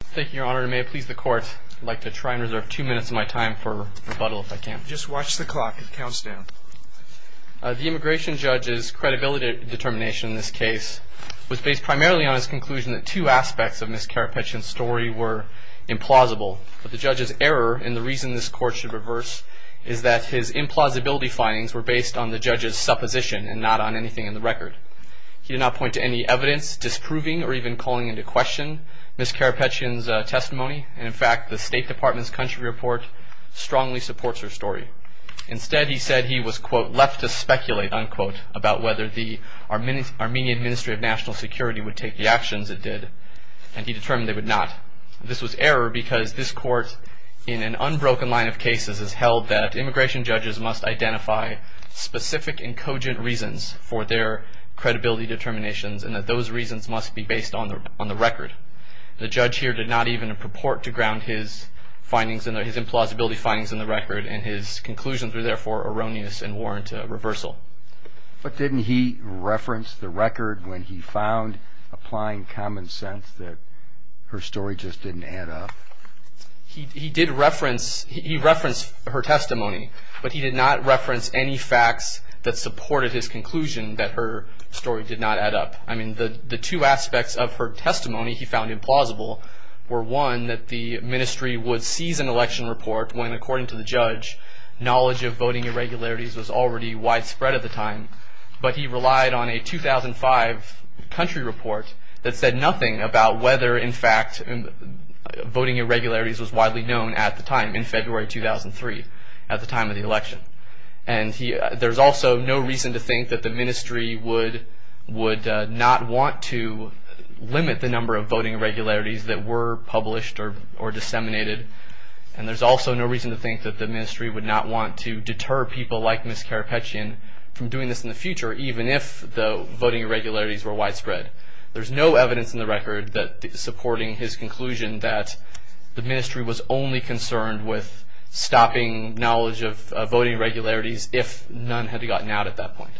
Thank you, Your Honor. And may it please the Court, I'd like to try and reserve two minutes of my time for rebuttal if I can. Just watch the clock. It counts down. The immigration judge's credibility determination in this case was based primarily on his conclusion that two aspects of Ms. Karapetyan's story were implausible. But the judge's error and the reason this Court should reverse is that his implausibility findings were based on the judge's supposition and not on anything in the record. He did not point to any evidence disproving or even calling into question Ms. Karapetyan's testimony. And, in fact, the State Department's country report strongly supports her story. Instead, he said he was, quote, left to speculate, unquote, about whether the Armenian Ministry of National Security would take the actions it did. And he determined they would not. This was error because this Court, in an unbroken line of cases, has held that immigration judges must identify specific and cogent reasons for their credibility determinations and that those reasons must be based on the record. The judge here did not even purport to ground his findings and his implausibility findings in the record and his conclusions were, therefore, erroneous and warrant a reversal. But didn't he reference the record when he found applying common sense that her story just didn't add up? He did reference her testimony, but he did not reference any facts that supported his conclusion that her story did not add up. I mean, the two aspects of her testimony he found implausible were, one, that the ministry would seize an election report when, according to the judge, knowledge of voting irregularities was already widespread at the time. But he relied on a 2005 country report that said nothing about whether, in fact, voting irregularities was widely known at the time, in February 2003, at the time of the election. And there's also no reason to think that the ministry would not want to limit the number of voting irregularities that were published or disseminated. And there's also no reason to think that the ministry would not want to deter people like Ms. Karapetian from doing this in the future, even if the voting irregularities were widespread. There's no evidence in the record supporting his conclusion that the ministry was only concerned with stopping knowledge of voting irregularities if none had gotten out at that point.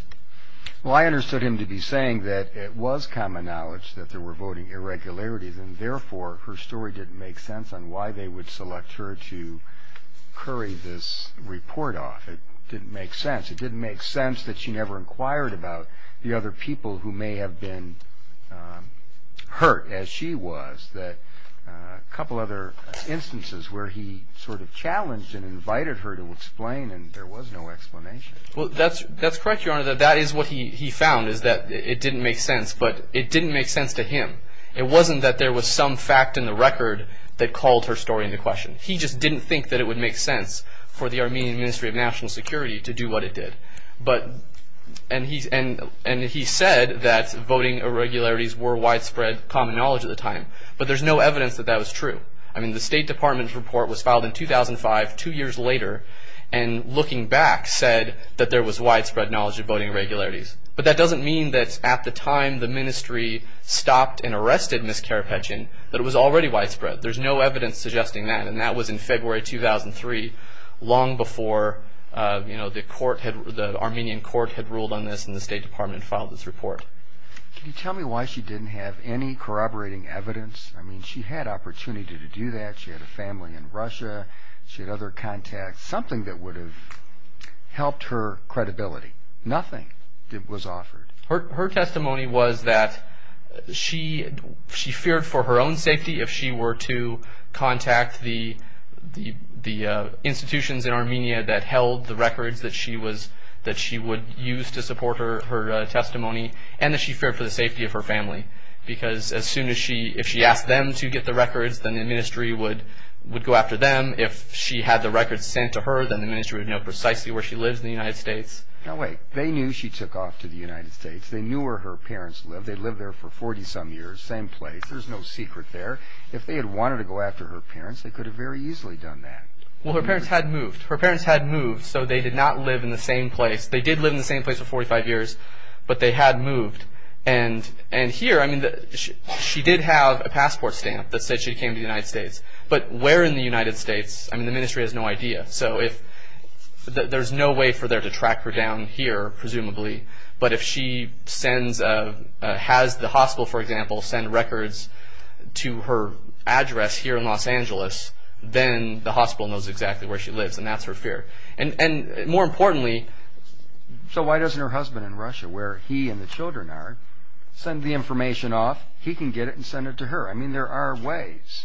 Well, I understood him to be saying that it was common knowledge that there were voting irregularities and, therefore, her story didn't make sense on why they would select her to curry this report off. It didn't make sense. And it seems that she never inquired about the other people who may have been hurt, as she was. A couple other instances where he sort of challenged and invited her to explain, and there was no explanation. Well, that's correct, Your Honor. That is what he found, is that it didn't make sense. But it didn't make sense to him. It wasn't that there was some fact in the record that called her story into question. He just didn't think that it would make sense for the Armenian Ministry of National Security to do what it did. And he said that voting irregularities were widespread common knowledge at the time. But there's no evidence that that was true. I mean, the State Department's report was filed in 2005, two years later, and looking back said that there was widespread knowledge of voting irregularities. But that doesn't mean that at the time the ministry stopped and arrested Ms. Karapetian, that it was already widespread. There's no evidence suggesting that, and that was in February 2003, long before the Armenian court had ruled on this and the State Department had filed this report. Can you tell me why she didn't have any corroborating evidence? I mean, she had opportunity to do that. She had a family in Russia. She had other contacts, something that would have helped her credibility. Nothing was offered. Her testimony was that she feared for her own safety if she were to contact the institutions in Armenia that held the records that she would use to support her testimony, and that she feared for the safety of her family. Because if she asked them to get the records, then the ministry would go after them. If she had the records sent to her, then the ministry would know precisely where she lives in the United States. Now, wait. They knew she took off to the United States. They knew where her parents lived. They lived there for 40-some years, same place. There's no secret there. If they had wanted to go after her parents, they could have very easily done that. Well, her parents had moved. Her parents had moved, so they did not live in the same place. They did live in the same place for 45 years, but they had moved. And here, I mean, she did have a passport stamp that said she came to the United States. But where in the United States? I mean, the ministry has no idea. So there's no way for them to track her down here, presumably. But if she has the hospital, for example, send records to her address here in Los Angeles, then the hospital knows exactly where she lives, and that's her fear. And more importantly. So why doesn't her husband in Russia, where he and the children are, send the information off? He can get it and send it to her. I mean, there are ways.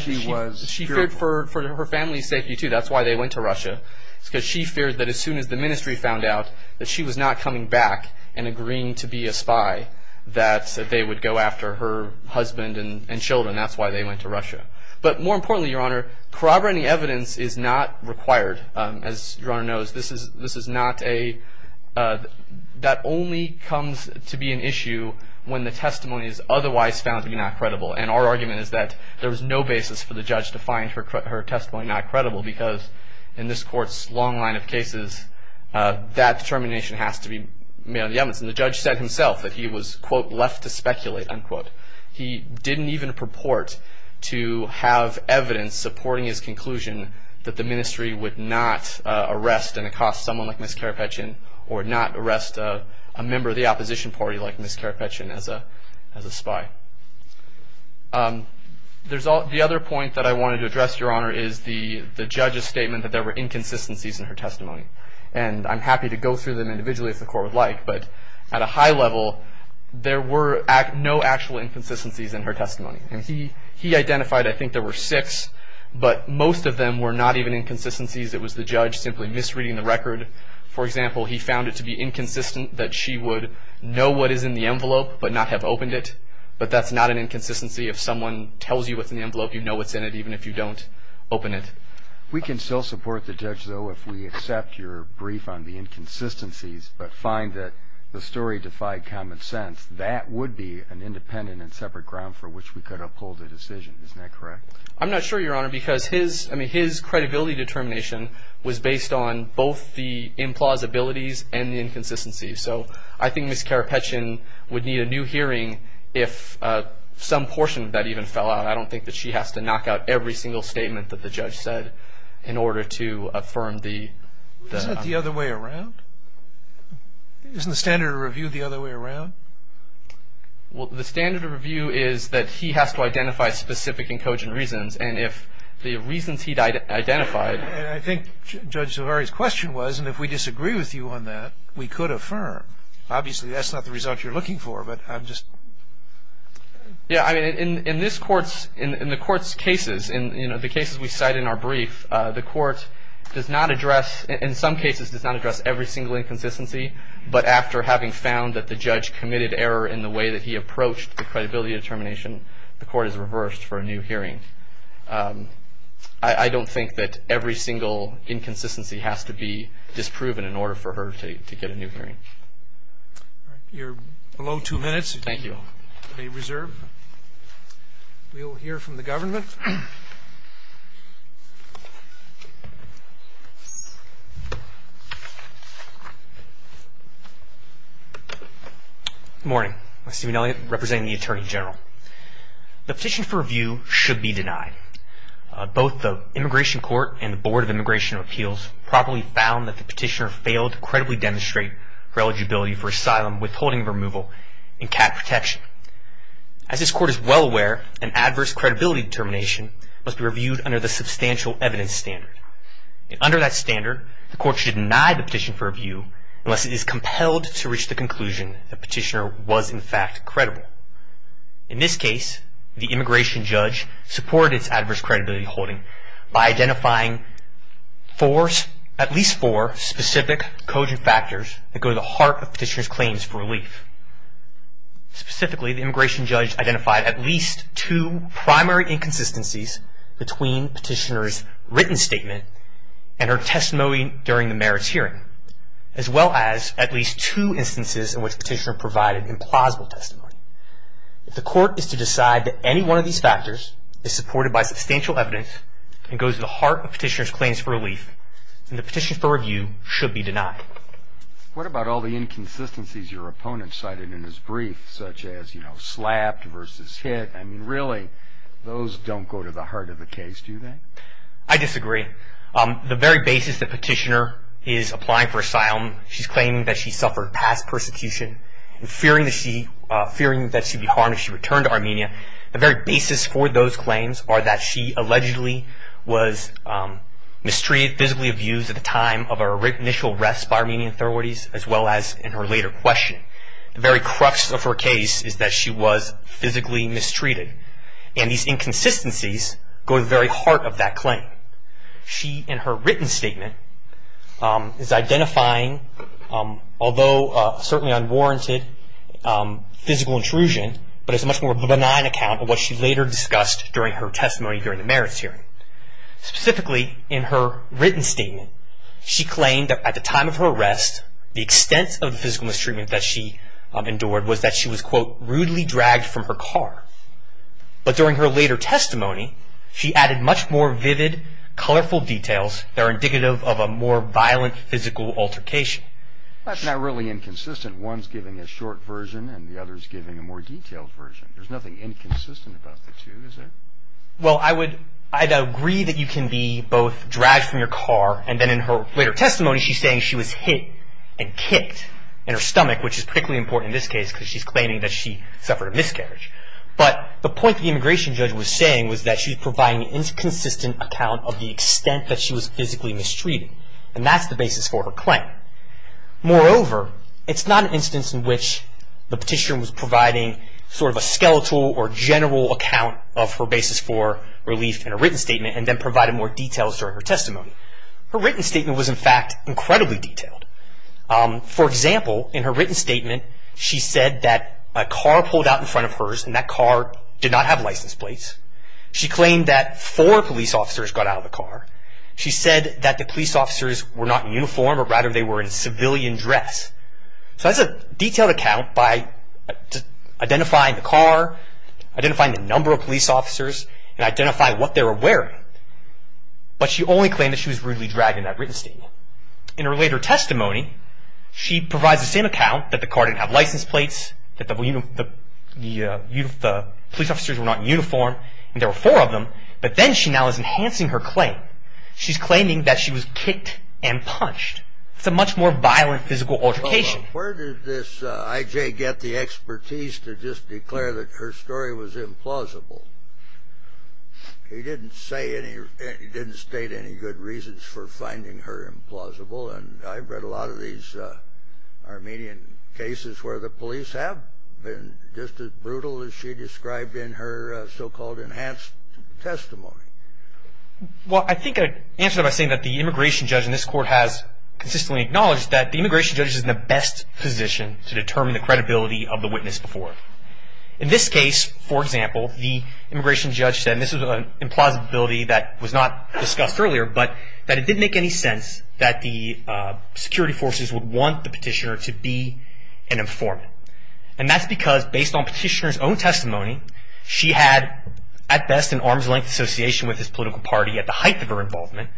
She feared for her family's safety, too. That's why they went to Russia. It's because she feared that as soon as the ministry found out that she was not coming back and agreeing to be a spy, that they would go after her husband and children. That's why they went to Russia. But more importantly, Your Honor, corroborating evidence is not required. As Your Honor knows, this is not a – that only comes to be an issue when the testimony is otherwise found to be not credible. And our argument is that there was no basis for the judge to find her testimony not credible because in this Court's long line of cases, that determination has to be made on the evidence. And the judge said himself that he was, quote, left to speculate, unquote. He didn't even purport to have evidence supporting his conclusion that the ministry would not arrest and accost someone like Ms. Karapetchin or not arrest a member of the opposition party like Ms. Karapetchin as a spy. The other point that I wanted to address, Your Honor, is the judge's statement that there were inconsistencies in her testimony. And I'm happy to go through them individually if the Court would like, but at a high level, there were no actual inconsistencies in her testimony. He identified, I think, there were six, but most of them were not even inconsistencies. It was the judge simply misreading the record. For example, he found it to be inconsistent that she would know what is in the envelope but not have opened it, but that's not an inconsistency. If someone tells you what's in the envelope, you know what's in it even if you don't open it. We can still support the judge, though, if we accept your brief on the inconsistencies but find that the story defied common sense. That would be an independent and separate ground for which we could uphold the decision. Isn't that correct? I'm not sure, Your Honor, because his credibility determination was based on both the implausibilities and the inconsistencies. So I think Ms. Karapetchan would need a new hearing if some portion of that even fell out. I don't think that she has to knock out every single statement that the judge said in order to affirm the outcome. Isn't it the other way around? Isn't the standard of review the other way around? Well, the standard of review is that he has to identify specific and cogent reasons, and if the reasons he identified. I think Judge Zavarri's question was, and if we disagree with you on that, we could affirm. Obviously, that's not the result you're looking for, but I'm just. Yeah, I mean, in this Court's, in the Court's cases, you know, the cases we cite in our brief, the Court does not address, in some cases, does not address every single inconsistency, but after having found that the judge committed error in the way that he approached the credibility determination, the Court has reversed for a new hearing. I don't think that every single inconsistency has to be disproven in order for her to get a new hearing. You're below two minutes. Thank you. You may reserve. We will hear from the government. Good morning. I'm Stephen Elliott, representing the Attorney General. The petition for review should be denied. Both the Immigration Court and the Board of Immigration Appeals probably found that the petitioner failed to credibly demonstrate her eligibility for asylum, withholding of removal, and cap protection. As this Court is well aware, an adverse credibility determination must be reviewed under the substantial evidence standard, and under that standard, the Court should deny the petition for review unless it is compelled to reach the conclusion that the petitioner was, in fact, credible. In this case, the immigration judge supported its adverse credibility holding by identifying at least four specific cogent factors that go to the heart of the petitioner's claims for relief. Specifically, the immigration judge identified at least two primary inconsistencies between the petitioner's written statement and her testimony during the merits hearing, as well as at least two instances in which the petitioner provided implausible testimony. If the Court is to decide that any one of these factors is supported by substantial evidence and goes to the heart of the petitioner's claims for relief, then the petition for review should be denied. What about all the inconsistencies your opponent cited in his brief, such as slapped versus hit? I mean, really, those don't go to the heart of the case, do they? I disagree. The very basis the petitioner is applying for asylum, she's claiming that she suffered past persecution, and fearing that she'd be harmed if she returned to Armenia, the very basis for those claims are that she allegedly was mistreated, physically abused at the time of her initial arrest by Armenian authorities, as well as in her later questioning. The very crux of her case is that she was physically mistreated, and these inconsistencies go to the very heart of that claim. She, in her written statement, is identifying, although certainly unwarranted, physical intrusion, but it's a much more benign account of what she later discussed during her testimony during the merits hearing. Specifically, in her written statement, she claimed that at the time of her arrest, the extent of the physical mistreatment that she endured was that she was, quote, But during her later testimony, she added much more vivid, colorful details that are indicative of a more violent physical altercation. That's not really inconsistent. One's giving a short version, and the other's giving a more detailed version. There's nothing inconsistent about the two, is there? Well, I'd agree that you can be both dragged from your car, and then in her later testimony, she's saying she was hit and kicked in her stomach, which is particularly important in this case because she's claiming that she suffered a miscarriage. But the point the immigration judge was saying was that she was providing an inconsistent account of the extent that she was physically mistreated, and that's the basis for her claim. Moreover, it's not an instance in which the petitioner was providing sort of a skeletal or general account of her basis for relief in a written statement, and then provided more details during her testimony. Her written statement was, in fact, incredibly detailed. For example, in her written statement, she said that a car pulled out in front of hers, and that car did not have license plates. She claimed that four police officers got out of the car. She said that the police officers were not in uniform, but rather they were in civilian dress. So that's a detailed account by identifying the car, identifying the number of police officers, and identifying what they were wearing. But she only claimed that she was rudely dragged in that written statement. In her later testimony, she provides the same account, that the car didn't have license plates, that the police officers were not in uniform, and there were four of them, but then she now is enhancing her claim. She's claiming that she was kicked and punched. It's a much more violent physical altercation. Where did this I.J. get the expertise to just declare that her story was implausible? He didn't state any good reasons for finding her implausible, and I've read a lot of these Armenian cases where the police have been just as brutal as she described in her so-called enhanced testimony. Well, I think I'd answer by saying that the immigration judge in this court has consistently acknowledged that the immigration judge is in the best position to determine the credibility of the witness before. In this case, for example, the immigration judge said, and this is an implausibility that was not discussed earlier, but that it didn't make any sense that the security forces would want the petitioner to be an informant. And that's because based on petitioner's own testimony, she had at best an arm's-length association with his political party at the height of her involvement.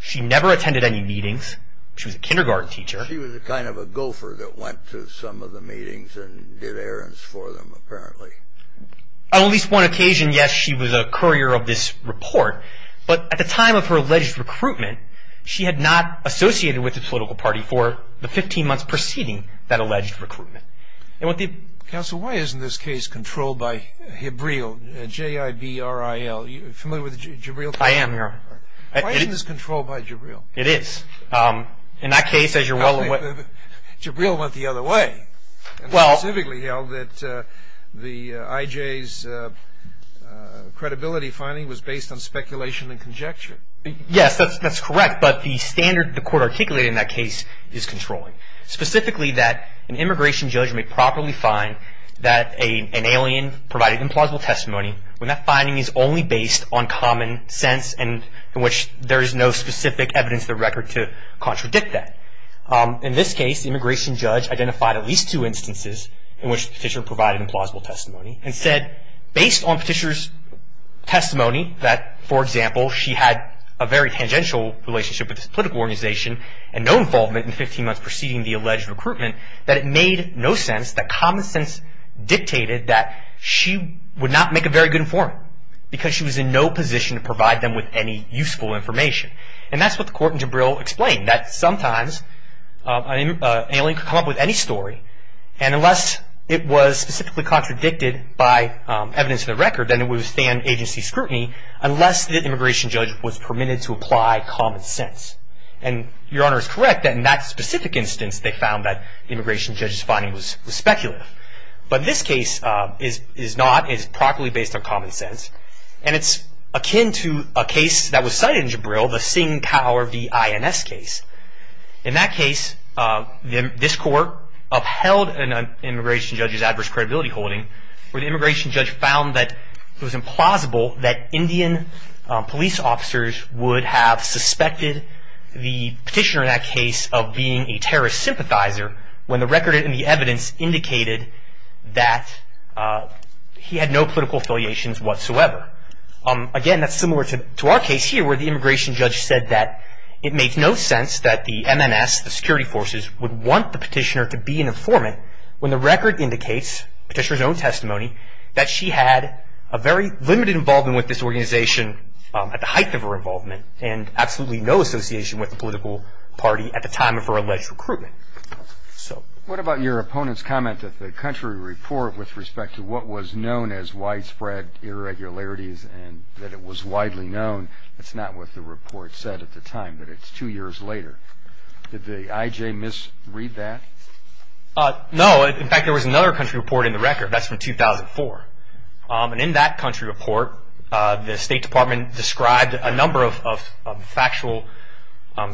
She never attended any meetings. She was a kindergarten teacher. She was kind of a gopher that went to some of the meetings and did errands for them, apparently. On at least one occasion, yes, she was a courier of this report, but at the time of her alleged recruitment, she had not associated with the political party for the 15 months preceding that alleged recruitment. Counsel, why isn't this case controlled by JIBRIL? Are you familiar with JIBRIL? I am, Your Honor. Why isn't this controlled by JIBRIL? It is. In that case, as you're well aware— JIBRIL went the other way and specifically held that the IJ's credibility finding was based on speculation and conjecture. Yes, that's correct, but the standard the court articulated in that case is controlling, specifically that an immigration judge may properly find that an alien provided implausible testimony when that finding is only based on common sense in which there is no specific evidence of the record to contradict that. In this case, the immigration judge identified at least two instances in which the petitioner provided implausible testimony and said, based on the petitioner's testimony that, for example, she had a very tangential relationship with this political organization and no involvement in the 15 months preceding the alleged recruitment, that it made no sense, that common sense dictated that she would not make a very good informant because she was in no position to provide them with any useful information. And that's what the court in JIBRIL explained, that sometimes an alien could come up with any story and unless it was specifically contradicted by evidence of the record, then it would withstand agency scrutiny unless the immigration judge was permitted to apply common sense. And Your Honor is correct that in that specific instance, they found that the immigration judge's finding was speculative. But this case is not. It is properly based on common sense. And it's akin to a case that was cited in JIBRIL, the Singh Power v. INS case. In that case, this court upheld an immigration judge's adverse credibility holding where the immigration judge found that it was implausible that Indian police officers would have suspected the petitioner in that case of being a terrorist sympathizer when the record and the evidence indicated that he had no political affiliations whatsoever. Again, that's similar to our case here where the immigration judge said that it makes no sense that the MNS, the security forces, would want the petitioner to be an informant when the record indicates, the petitioner's own testimony, that she had a very limited involvement with this organization at the height of her involvement and absolutely no association with the political party at the time of her alleged recruitment. What about your opponent's comment that the country report with respect to what was known as widespread irregularities and that it was widely known, that's not what the report said at the time, that it's two years later. Did the IJ misread that? No. In fact, there was another country report in the record. That's from 2004. In that country report, the State Department described a number of factual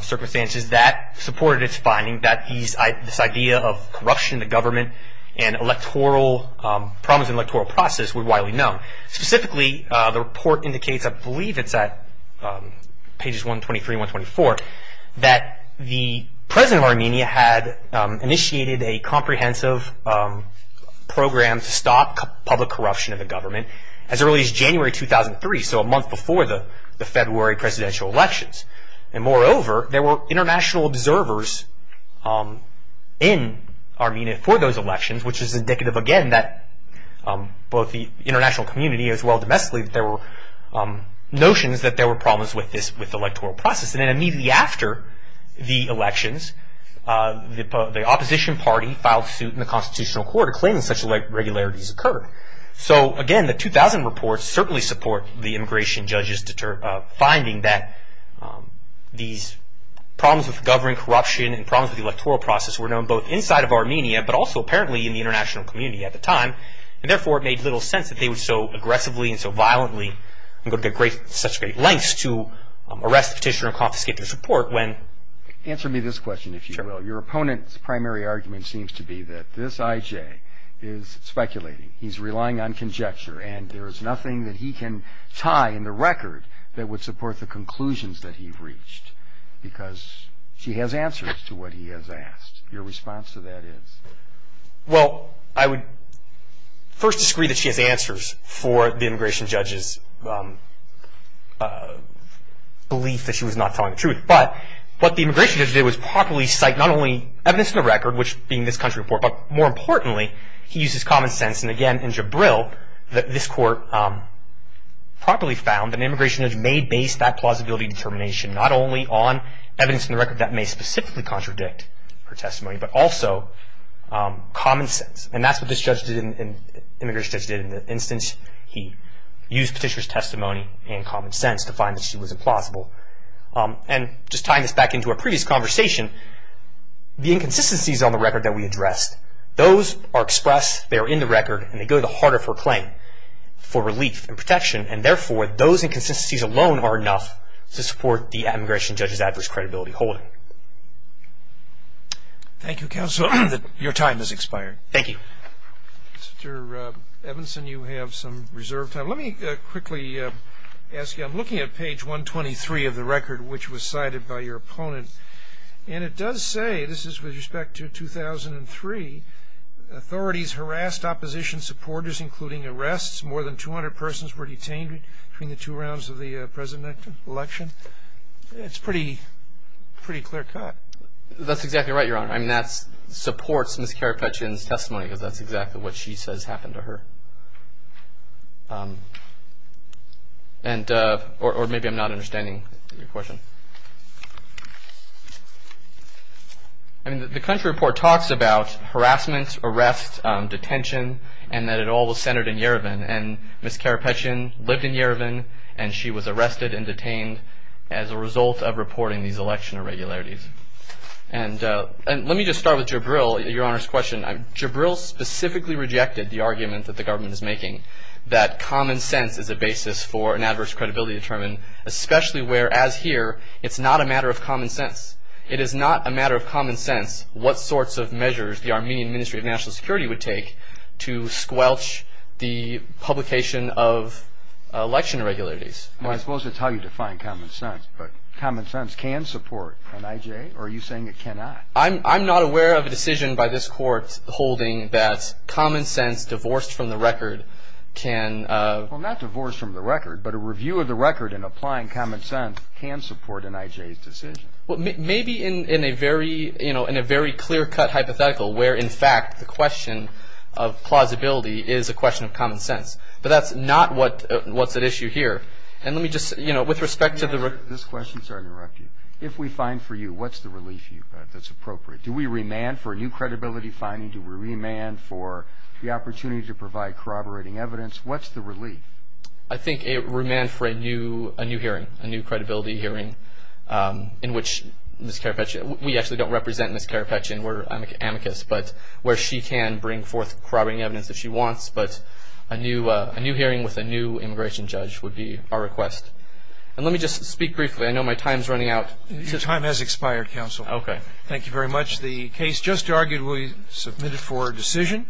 circumstances that supported its finding that this idea of corruption in the government and problems in the electoral process were widely known. Specifically, the report indicates, I believe it's at pages 123 and 124, that the president of Armenia had initiated a comprehensive program to stop public corruption in the government as early as January 2003, so a month before the February presidential elections. Moreover, there were international observers in Armenia for those elections, which is indicative, again, that both the international community as well as domestically, there were notions that there were problems with the electoral process. Immediately after the elections, the opposition party filed suit in the Constitutional Court claiming such irregularities occurred. Again, the 2000 report certainly supports the immigration judge's finding that these problems with government corruption and problems with the electoral process were known both inside of Armenia but also apparently in the international community at the time. Therefore, it made little sense that they would so aggressively and so violently and go to such great lengths to arrest the petitioner and confiscate their support when Answer me this question, if you will. Your opponent's primary argument seems to be that this IJ is speculating. He's relying on conjecture, and there is nothing that he can tie in the record that would support the conclusions that he reached, because she has answers to what he has asked. Your response to that is? Well, I would first disagree that she has answers for the immigration judge's belief that she was not telling the truth. But what the immigration judge did was properly cite not only evidence in the record, which being this country report, but more importantly, he used his common sense. And again, in Jabril, this court properly found that an immigration judge may base that plausibility determination not only on evidence in the record that may specifically contradict her testimony, but also common sense. And that's what this immigration judge did in the instance he used petitioner's testimony and common sense to find that she was implausible. And just tying this back into our previous conversation, the inconsistencies on the record that we addressed, those are expressed, they are in the record, and they go to the heart of her claim for relief and protection. And therefore, those inconsistencies alone are enough to support the immigration judge's average credibility holding. Thank you, counsel. Your time has expired. Thank you. Mr. Evanson, you have some reserve time. Let me quickly ask you, I'm looking at page 123 of the record, which was cited by your opponent. And it does say, this is with respect to 2003, authorities harassed opposition supporters, including arrests. More than 200 persons were detained between the two rounds of the presidential election. It's a pretty clear cut. That's exactly right, Your Honor. That supports Ms. Karapetian's testimony because that's exactly what she says happened to her. Or maybe I'm not understanding your question. The country report talks about harassment, arrests, detention, and that it all was centered in Yerevan. And Ms. Karapetian lived in Yerevan, and she was arrested and detained as a result of reporting these election irregularities. And let me just start with Jabril, Your Honor's question. Jabril specifically rejected the argument that the government is making that common sense is a basis for an adverse credibility to determine, especially where, as here, it's not a matter of common sense. It is not a matter of common sense what sorts of measures the Armenian Ministry of National Security would take to squelch the publication of election irregularities. Well, I suppose that's how you define common sense. But common sense can support NIJ? Or are you saying it cannot? I'm not aware of a decision by this Court holding that common sense divorced from the record can... Well, not divorced from the record, but a review of the record in applying common sense can support NIJ's decision. Well, maybe in a very clear-cut hypothetical where, in fact, the question of plausibility is a question of common sense. But that's not what's at issue here. And let me just, you know, with respect to the... This question, sorry to interrupt you. If we fine for you, what's the relief that's appropriate? Do we remand for a new credibility finding? Do we remand for the opportunity to provide corroborating evidence? What's the relief? I think remand for a new hearing, a new credibility hearing in which Ms. Carapace... We actually don't represent Ms. Carapace. We're amicus, but where she can bring forth corroborating evidence if she wants. But a new hearing with a new immigration judge would be our request. And let me just speak briefly. I know my time is running out. Your time has expired, counsel. Okay. Thank you very much. The case just argued will be submitted for decision.